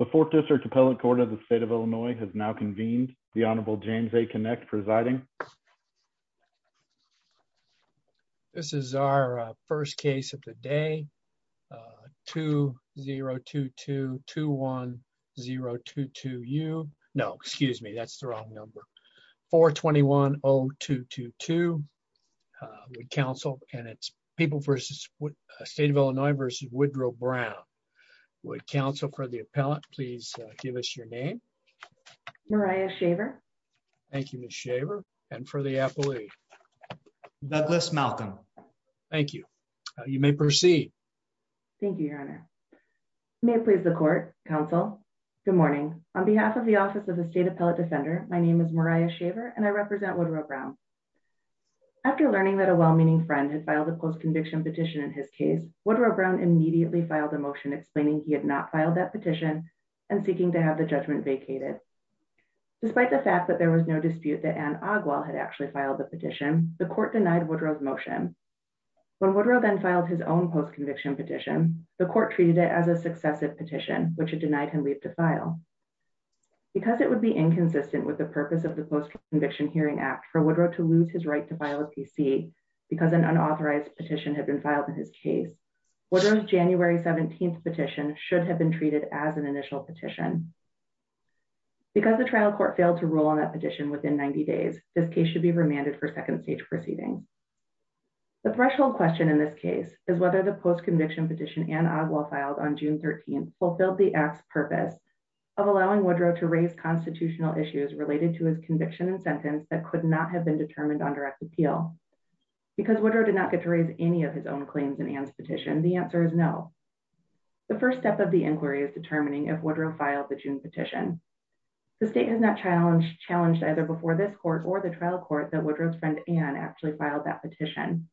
The Fourth District Appellate Court of the State of Illinois has now convened. The Honorable James A. Kinect presiding. This is our first case of the day. I'm going to call the roll. 2 0 2 2 2 1 0 2 2. You know, excuse me. That's the wrong number. 4 21 0 2 2 2. We counsel and it's people versus what state of Illinois versus Woodrow Brown. Would counsel for the appellate, please. Give us your name. Mariah Shaver. Thank you, Ms. Shaver. And for the appellate. Douglas Malcolm. Thank you. You may proceed. Thank you, Your Honor. May it please the court, counsel. Good morning. On behalf of the Office of the State Appellate Defender, my name is Mariah Shaver and I represent Woodrow Brown. After learning that a well meaning friend had filed a post conviction petition in his case, Woodrow Brown immediately filed a motion explaining he had not filed that petition and seeking to have the judgment vacated. Despite the fact that there was no dispute that Ann Ogwell had actually filed the petition, the court denied Woodrow's motion. When Woodrow then filed his own post conviction petition, the court treated it as a successive petition, which it denied him leave to file. Because it would be inconsistent with the purpose of the Post Conviction Hearing Act for Woodrow to lose his right to file a PC because an unauthorized petition had been filed in his case. Woodrow's January 17 petition should have been treated as an initial petition. Because the trial court failed to rule on that petition within 90 days, this case should be remanded for second stage proceeding. The threshold question in this case is whether the post conviction petition Ann Ogwell filed on June 13 fulfilled the act's purpose of allowing Woodrow to raise constitutional issues related to his conviction and sentence that could not have been determined on direct appeal. Because Woodrow did not get to raise any of his own claims in Ann's petition, the answer is no. The first step of the inquiry is determining if Woodrow filed the June petition. The state has not challenged either before this court or the trial court that Woodrow's friend Ann actually filed that petition.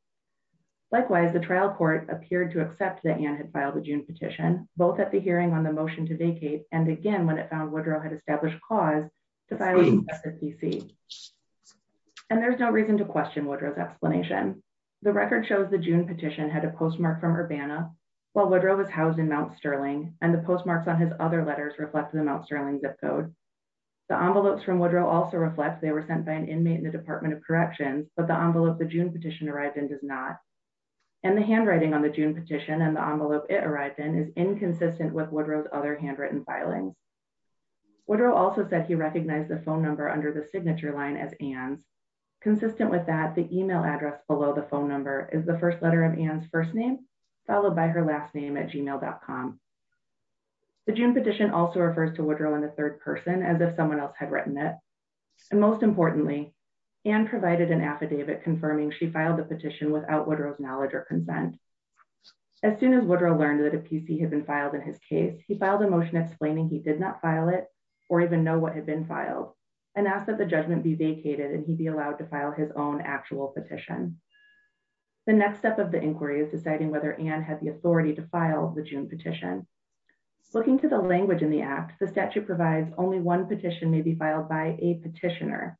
Likewise, the trial court appeared to accept that Ann had filed the June petition, both at the hearing on the motion to vacate and again when it found Woodrow had established cause to file a PC. And there's no reason to question Woodrow's explanation. The record shows the June petition had a postmark from Urbana, while Woodrow was housed in Mount Sterling, and the postmarks on his other letters reflect the Mount Sterling zip code. The envelopes from Woodrow also reflect they were sent by an inmate in the Department of Corrections, but the envelope the June petition arrived in does not. And the handwriting on the June petition and the envelope it arrived in is inconsistent with Woodrow's other handwritten filings. Woodrow also said he recognized the phone number under the signature line as Ann's. Consistent with that, the email address below the phone number is the first letter of Ann's first name, followed by her last name at gmail.com. The June petition also refers to Woodrow in the third person as if someone else had written it. And most importantly, Ann provided an affidavit confirming she filed the petition without Woodrow's knowledge or consent. As soon as Woodrow learned that a PC had been filed in his case, he filed a motion explaining he did not file it, or even know what had been filed, and asked that the judgment be vacated and he be allowed to file his own actual petition. The next step of the inquiry is deciding whether Ann has the authority to file the June petition. Looking to the language in the act, the statute provides only one petition may be filed by a petitioner.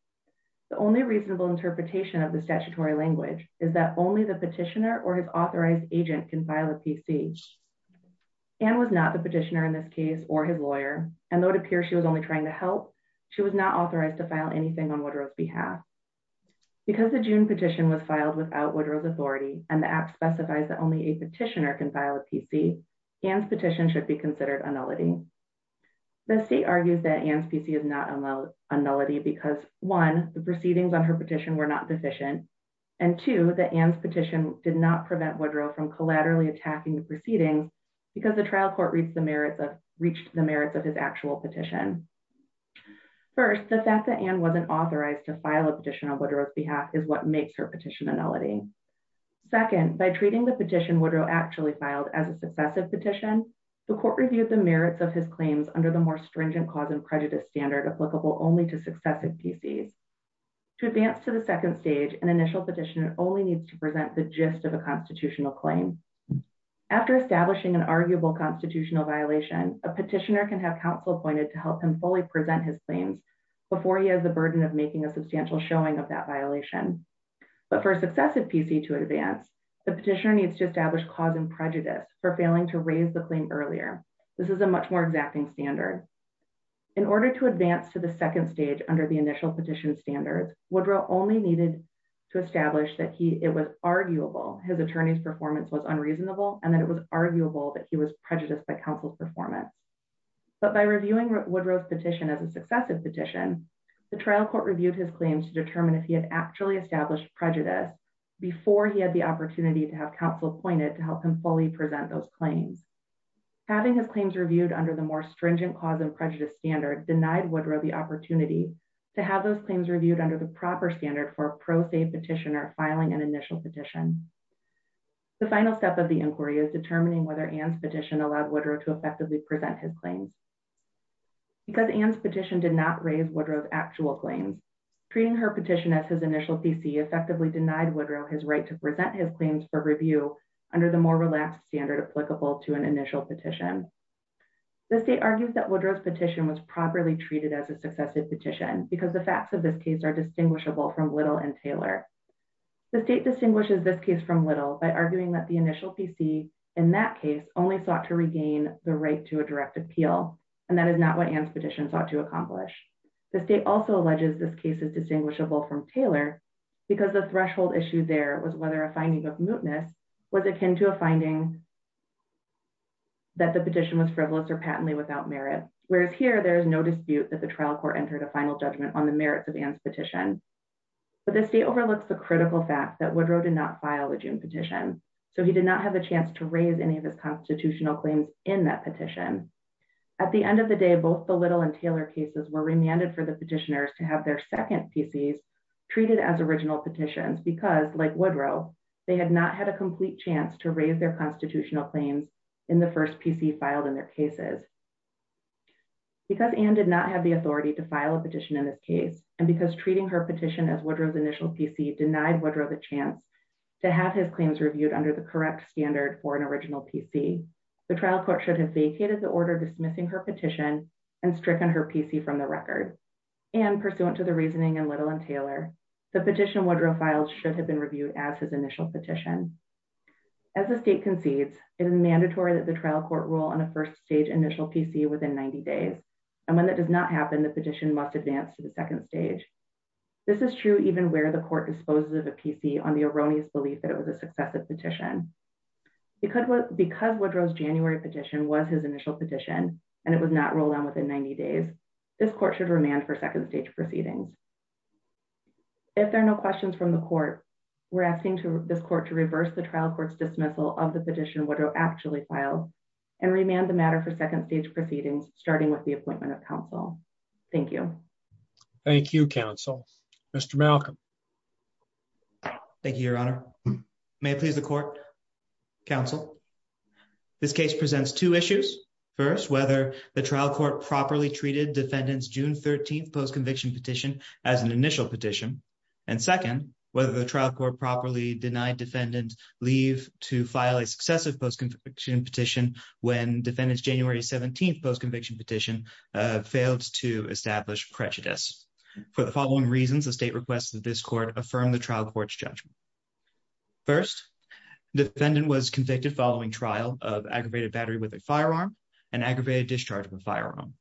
The only reasonable interpretation of the statutory language is that only the petitioner or his authorized agent can file a PC. Ann was not the petitioner in this case, or his lawyer, and though it appears she was only trying to help, she was not authorized to file anything on Woodrow's behalf. Because the June petition was filed without Woodrow's authority, and the act specifies that only a petitioner can file a PC, Ann's petition should be considered a nullity. The state argues that Ann's PC is not a nullity because 1. the proceedings on her petition were not deficient, and 2. that Ann's petition did not prevent Woodrow from collaterally attacking the proceedings because the trial court reached the merits of his actual petition. First, the fact that Ann wasn't authorized to file a petition on Woodrow's behalf is what makes her petition a nullity. Second, by treating the petition Woodrow actually filed as a successive petition, the court reviewed the merits of his claims under the more stringent cause and prejudice standard applicable only to successive PCs. To advance to the second stage, an initial petitioner only needs to present the gist of a constitutional claim. After establishing an arguable constitutional violation, a petitioner can have counsel appointed to help him fully present his claims before he has the burden of making a substantial showing of that violation. But for a successive PC to advance, the petitioner needs to establish cause and prejudice for failing to raise the claim earlier. This is a much more exacting standard. In order to advance to the second stage under the initial petition standards, Woodrow only needed to establish that it was arguable his attorney's performance was unreasonable and that it was arguable that he was prejudiced by counsel's performance. But by reviewing Woodrow's petition as a successive petition, the trial court reviewed his claims to determine if he had actually established prejudice before he had the opportunity to have counsel appointed to help him fully present those claims. Having his claims reviewed under the more stringent cause and prejudice standard denied Woodrow the opportunity to have those claims reviewed under the proper standard for a pro se petitioner filing an initial petition. The final step of the inquiry is determining whether Anne's petition allowed Woodrow to effectively present his claims. Because Anne's petition did not raise Woodrow's actual claims, treating her petition as his initial PC effectively denied Woodrow his right to present his claims for review under the more relaxed standard applicable to an initial petition. The state argues that Woodrow's petition was properly treated as a successive petition because the facts of this case are distinguishable from Little and Taylor. The state distinguishes this case from Little by arguing that the initial PC in that case only sought to regain the right to a direct appeal, and that is not what Anne's petition sought to accomplish. The state also alleges this case is distinguishable from Taylor because the threshold issue there was whether a finding of mootness was akin to a finding that the petition was frivolous or patently without merit, whereas here there is no dispute that the trial court entered a final judgment on the merits of Anne's petition. But the state overlooks the critical fact that Woodrow did not file a June petition, so he did not have a chance to raise any of his constitutional claims in that petition. At the end of the day, both the Little and Taylor cases were remanded for the petitioners to have their second PCs treated as original petitions because, like Woodrow, they had not had a complete chance to raise their constitutional claims in the first PC filed in their cases. Because Anne did not have the authority to file a petition in this case, and because treating her petition as Woodrow's initial PC denied Woodrow the chance to have his claims reviewed under the correct standard for an original PC, the trial court should have vacated the order dismissing her petition and stricken her PC from the record. And, pursuant to the reasoning in Little and Taylor, the petition Woodrow filed should have been reviewed as his initial petition. As the state concedes, it is mandatory that the trial court rule on a first stage initial PC within 90 days, and when that does not happen, the petition must advance to the second stage. This is true even where the court disposes of a PC on the erroneous belief that it was a successive petition. Because Woodrow's January petition was his initial petition, and it was not rolled out within 90 days, this court should remand for second stage proceedings. If there are no questions from the court, we're asking this court to reverse the trial court's dismissal of the petition Woodrow actually filed, and remand the matter for second stage proceedings, starting with the appointment of counsel. Thank you. Thank you, counsel. Mr. Malcolm. Thank you, Your Honor. May it please the court? Counsel? This case presents two issues. First, whether the trial court properly treated defendant's June 13th postconviction petition as an initial petition. And second, whether the trial court properly denied defendant leave to file a successive postconviction petition when defendant's January 17th postconviction petition failed to establish prejudice. For the following reasons, the state requests that this court affirm the trial court's judgment. First, defendant was convicted following trial of aggravated battery with a firearm and aggravated discharge of a firearm.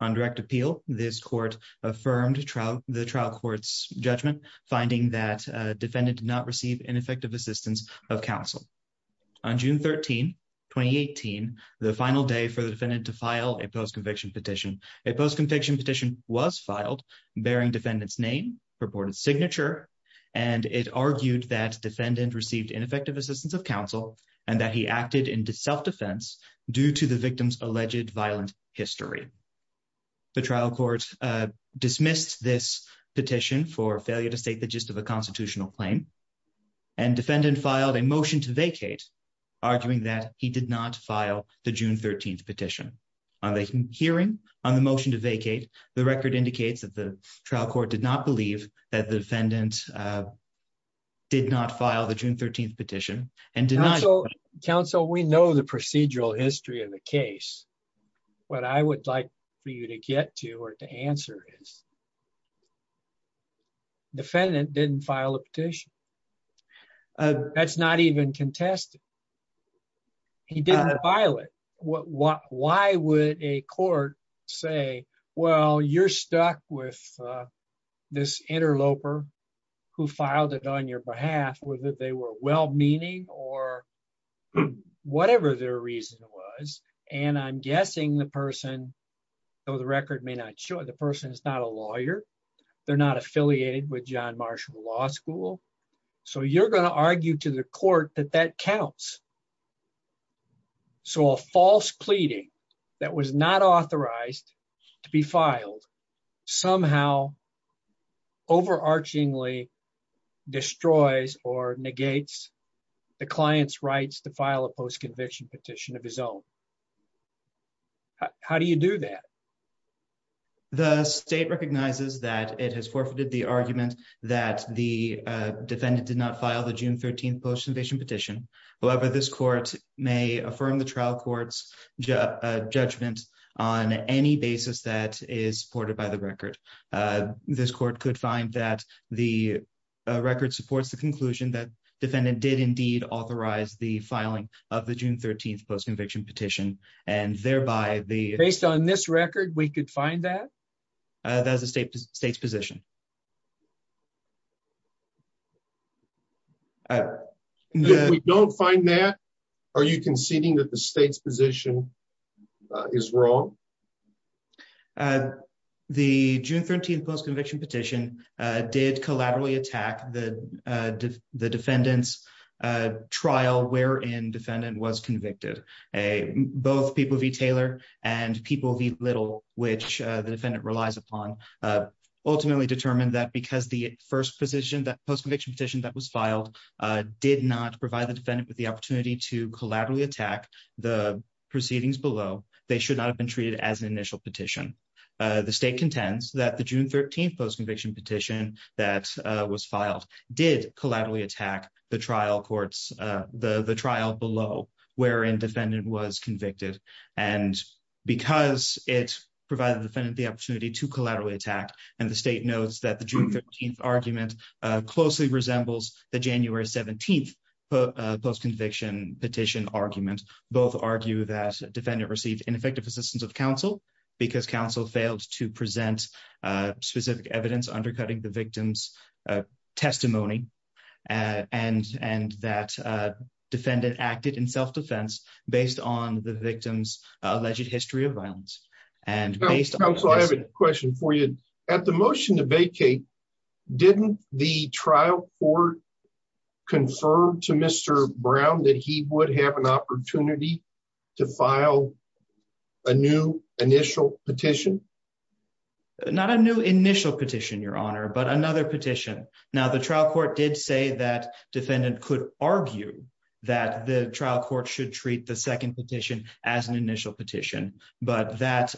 On direct appeal, this court affirmed the trial court's judgment, finding that defendant did not receive ineffective assistance of counsel. On June 13, 2018, the final day for the defendant to file a postconviction petition, a postconviction petition was filed bearing defendant's name, purported signature, and it argued that defendant received ineffective assistance of counsel and that he acted in self-defense due to the victim's alleged violent history. The trial court dismissed this petition for failure to state the gist of a constitutional claim, and defendant filed a motion to vacate, arguing that he did not file the June 13th petition. On the hearing, on the motion to vacate, the record indicates that the trial court did not believe that the defendant did not file the June 13th petition. Counsel, we know the procedural history of the case. What I would like for you to get to or to answer is defendant didn't file a petition. That's not even contested. He didn't file it. Why would a court say, well, you're stuck with this interloper who filed it on your behalf, whether they were well-meaning or whatever their reason was, and I'm guessing the person, though the record may not show it, the person is not a lawyer. They're not affiliated with John Marshall Law School. So you're going to argue to the court that that counts. So a false pleading that was not authorized to be filed somehow overarchingly destroys or negates the client's rights to file a post-conviction petition of his own. How do you do that? The state recognizes that it has forfeited the argument that the defendant did not file the June 13th post-conviction petition. However, this court may affirm the trial court's judgment on any basis that is supported by the record. This court could find that the record supports the conclusion that defendant did indeed authorize the filing of the June 13th post-conviction petition and thereby the... We could find that? That is the state's position. If we don't find that, are you conceding that the state's position is wrong? The June 13th post-conviction petition did collaboratively attack the defendant's trial wherein defendant was convicted. Both people v. Taylor and people v. Little, which the defendant relies upon, ultimately determined that because the first post-conviction petition that was filed did not provide the defendant with the opportunity to collaboratively attack the proceedings below. They should not have been treated as an initial petition. The state contends that the June 13th post-conviction petition that was filed did collaboratively attack the trial courts, the trial below, wherein defendant was convicted. And because it provided the defendant the opportunity to collaterally attack, and the state notes that the June 13th argument closely resembles the January 17th post-conviction petition argument, both argue that defendant received ineffective assistance of counsel because counsel failed to present specific evidence undercutting the victim's testimony, and that defendant acted in self-defense based on the victim's alleged history of violence. Counsel, I have a question for you. At the motion to vacate, didn't the trial court confirm to Mr. Brown that he would have an opportunity to file a new initial petition? Not a new initial petition, Your Honor, but another petition. Now, the trial court did say that defendant could argue that the trial court should treat the second petition as an initial petition, but that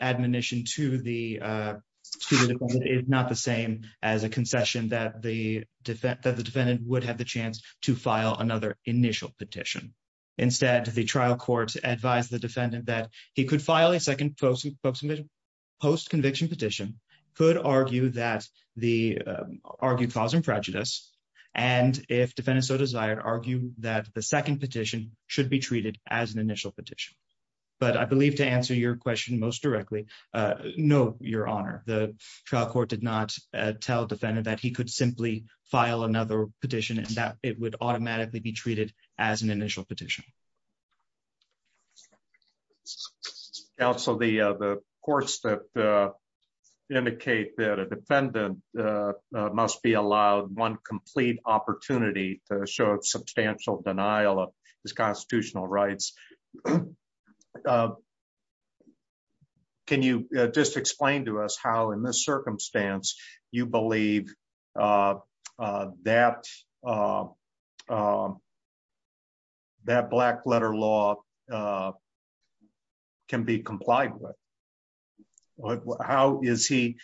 admonition to the defendant is not the same as a concession that the defendant would have the chance to file another initial petition. Instead, the trial court advised the defendant that he could file a second post-conviction petition, could argue that the argued cause and prejudice, and if defendant so desired, argue that the second petition should be treated as an initial petition. But I believe to answer your question most directly, no, Your Honor, the trial court did not tell defendant that he could simply file another petition, and that it would automatically be treated as an initial petition. Counsel, the courts that indicate that a defendant must be allowed one complete opportunity to show substantial denial of his constitutional rights. Can you just explain to us how in this circumstance you believe that black letter law can be complied with? How is he,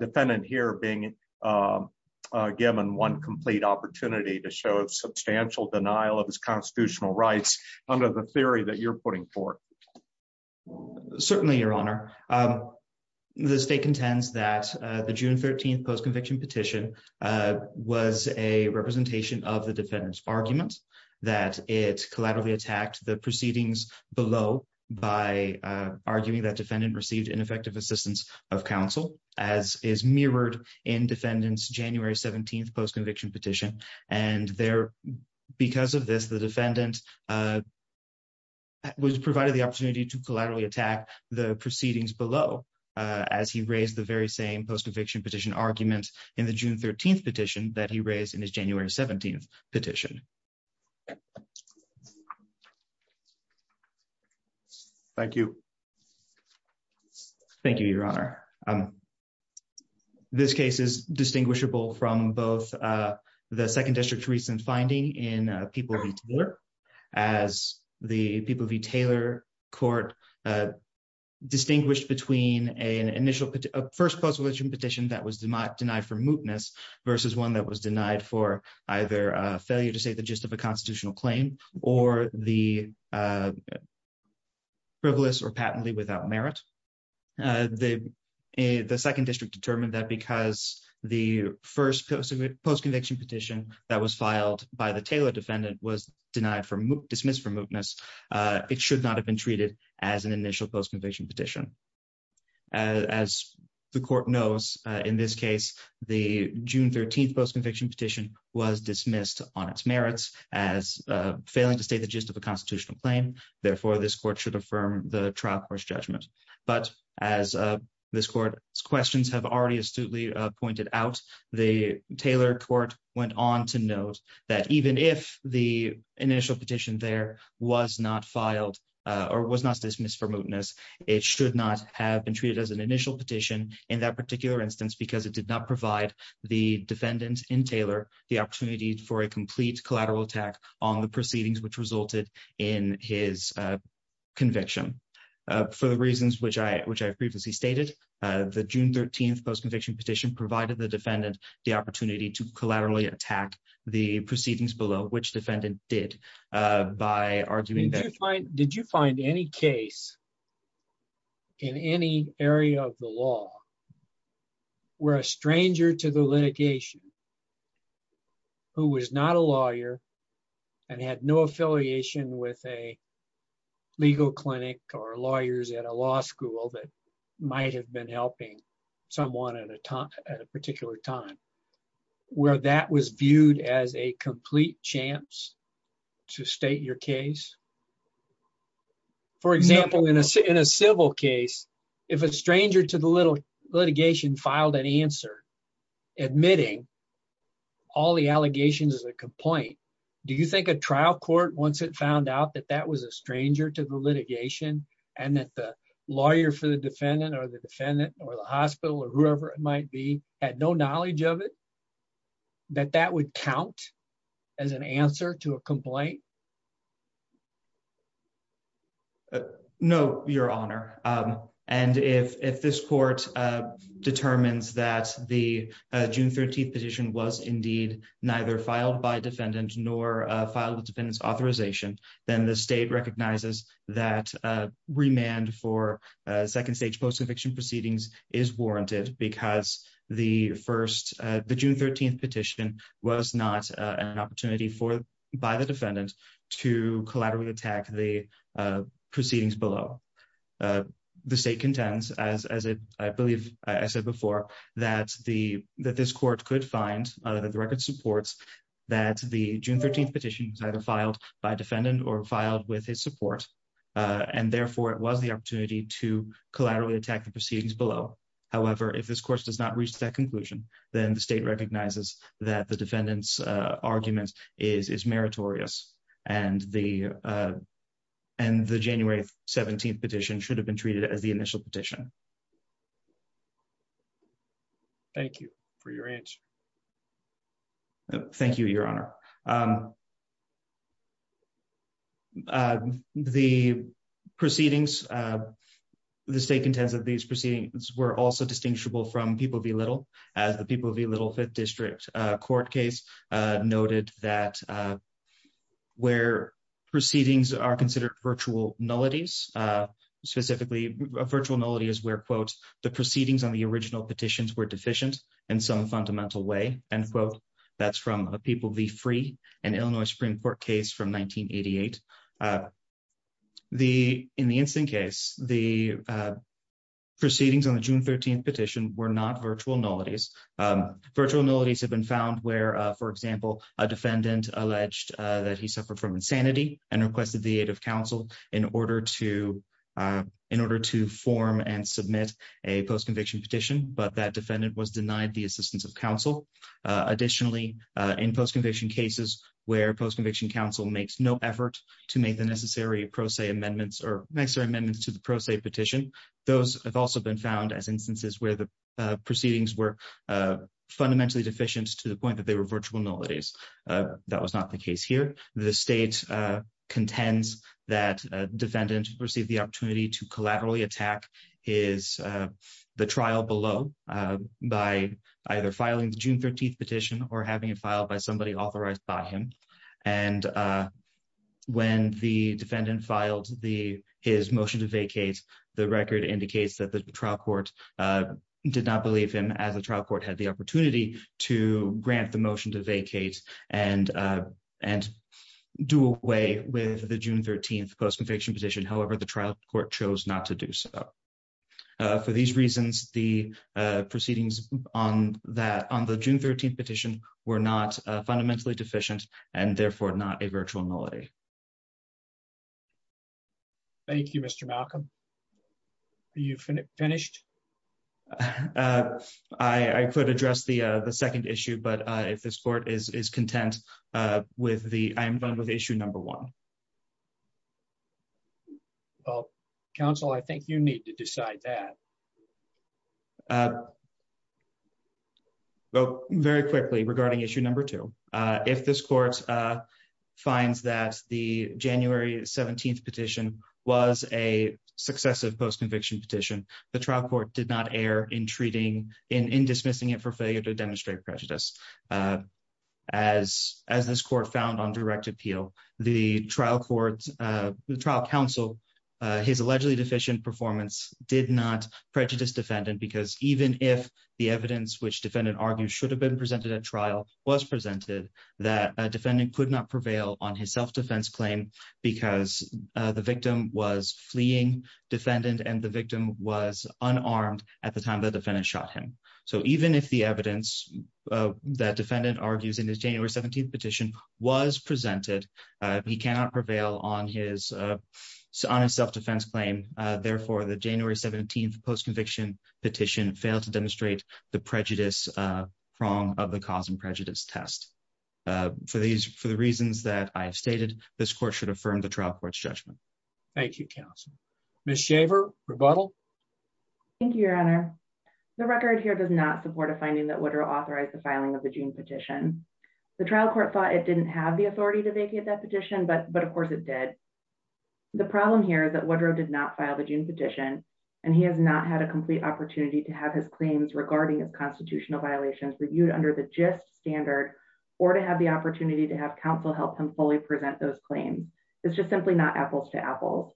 defendant here, being given one complete opportunity to show substantial denial of his constitutional rights under the theory that you're putting forth? Certainly, Your Honor, the state contends that the June 13 post-conviction petition was a representation of the defendant's argument, that it collaterally attacked the proceedings below by arguing that defendant received ineffective assistance of counsel, as is mirrored in defendant's January 17 post-conviction petition. And there, because of this, the defendant was provided the opportunity to collaterally attack the proceedings below, as he raised the very same post-conviction petition argument in the June 13 petition that he raised in his January 17 petition. Thank you. Thank you, Your Honor. This case is distinguishable from both the Second District's recent finding in People v. Taylor, as the People v. Taylor court distinguished between a first post-conviction petition that was denied for mootness versus one that was denied for either failure to say the gist of a constitutional claim or the frivolous or patently without merit. The Second District determined that because the first post-conviction petition that was filed by the Taylor defendant was dismissed for mootness, it should not have been treated as an initial post-conviction petition. As the court knows, in this case, the June 13 post-conviction petition was dismissed on its merits as failing to state the gist of a constitutional claim. Therefore, this court should affirm the trial court's judgment. But as this court's questions have already astutely pointed out, the Taylor court went on to note that even if the initial petition there was not filed or was not dismissed for mootness, it should not have been treated as an initial petition in that particular instance because it did not provide the defendant in Taylor the opportunity for a complete collateral attack on the proceedings which resulted in his conviction. For the reasons which I have previously stated, the June 13 post-conviction petition provided the defendant the opportunity to collaterally attack the proceedings below, which defendant did, by arguing that did you find any case in any area of the law where a stranger to the litigation, who was not a lawyer and had no affiliation with a legal clinic or lawyers at a law school that might have been helping someone at a particular time, where that was viewed as a complete chance to state your case? For example, in a civil case, if a stranger to the litigation filed an answer, admitting all the allegations as a complaint, do you think a trial court, once it found out that that was a stranger to the litigation, and that the lawyer for the defendant or the defendant or the hospital or whoever it might be, had no knowledge of it, that that would count as an answer to a complaint? No, Your Honor. And if this court determines that the June 13 petition was indeed neither filed by defendant nor filed with defendant's authorization, then the state recognizes that remand for second-stage post-conviction proceedings is warranted, because the June 13 petition was not an opportunity by the defendant to collaterally attack the proceedings below. The state contends, as I believe I said before, that this court could find, that the record supports, that the June 13 petition was either filed by defendant or filed with his support, and therefore it was the opportunity to collaterally attack the proceedings below. However, if this court does not reach that conclusion, then the state recognizes that the defendant's argument is meritorious, and the January 17 petition should have been treated as the initial petition. Thank you for your answer. Thank you, Your Honor. The proceedings, the state contends that these proceedings were also distinguishable from People v. Little, as the People v. Little 5th District Court case noted that where proceedings are considered virtual nullities, specifically, a virtual nullity is where, quote, the proceedings on the original petitions were deficient in some fundamental way, end quote. That's from a People v. Free and Illinois Supreme Court case from 1988. In the instant case, the proceedings on the June 13 petition were not virtual nullities. Virtual nullities have been found where, for example, a defendant alleged that he suffered from insanity and requested the aid of counsel in order to form and submit a post-conviction petition, but that defendant was denied the assistance of counsel. Additionally, in post-conviction cases where post-conviction counsel makes no effort to make the necessary pro se amendments or makes their amendments to the pro se petition, those have also been found as instances where the proceedings were fundamentally deficient to the point that they were virtual nullities. That was not the case here. The state contends that the defendant received the opportunity to collaterally attack his trial below by either filing the June 13 petition or having it filed by somebody authorized by him. And when the defendant filed his motion to vacate, the record indicates that the trial court did not believe him as the trial court had the opportunity to grant the motion to vacate and do away with the June 13 post-conviction petition. However, the trial court chose not to do so. For these reasons, the proceedings on the June 13 petition were not fundamentally deficient and therefore not a virtual nullity. Thank you, Mr. Malcolm. Are you finished? I could address the second issue, but if this court is content, I am done with issue number one. Well, counsel, I think you need to decide that. Very quickly, regarding issue number two. If this court finds that the January 17 petition was a successive post-conviction petition, the trial court did not err in dismissing it for failure to demonstrate prejudice. As this court found on direct appeal, the trial counsel, his allegedly deficient performance, did not prejudice defendant because even if the evidence which defendant argued should have been presented at trial was presented, that defendant could not prevail on his self-defense claim because the victim was fleeing defendant and the victim was unarmed at the time the defendant shot him. So even if the evidence that defendant argues in his January 17 petition was presented, he cannot prevail on his self-defense claim. Therefore, the January 17 post-conviction petition failed to demonstrate the prejudice wrong of the cause and prejudice test. For the reasons that I have stated, this court should affirm the trial court's judgment. Thank you, counsel. Ms. Shaver, rebuttal? Thank you, Your Honor. The record here does not support a finding that Woodrow authorized the filing of the June petition. The trial court thought it didn't have the authority to vacate that petition, but of course it did. The problem here is that Woodrow did not file the June petition, and he has not had a complete opportunity to have his claims regarding his constitutional violations reviewed under the GIST standard or to have the opportunity to have counsel help him fully present those claims. It's just simply not apples to apples.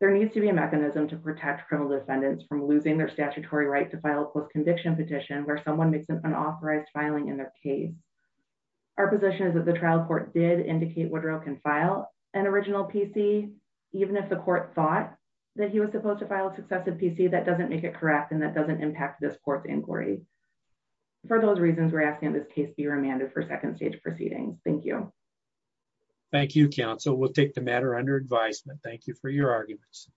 There needs to be a mechanism to protect criminal defendants from losing their statutory right to file a post-conviction petition where someone makes an unauthorized filing in their case. Our position is that the trial court did indicate Woodrow can file an original PC, even if the court thought that he was supposed to file a successive PC, that doesn't make it correct and that doesn't impact this court's inquiry. For those reasons, we're asking that this case be remanded for second stage proceedings. Thank you. Thank you, counsel. We'll take the matter under advisement. Thank you for your arguments.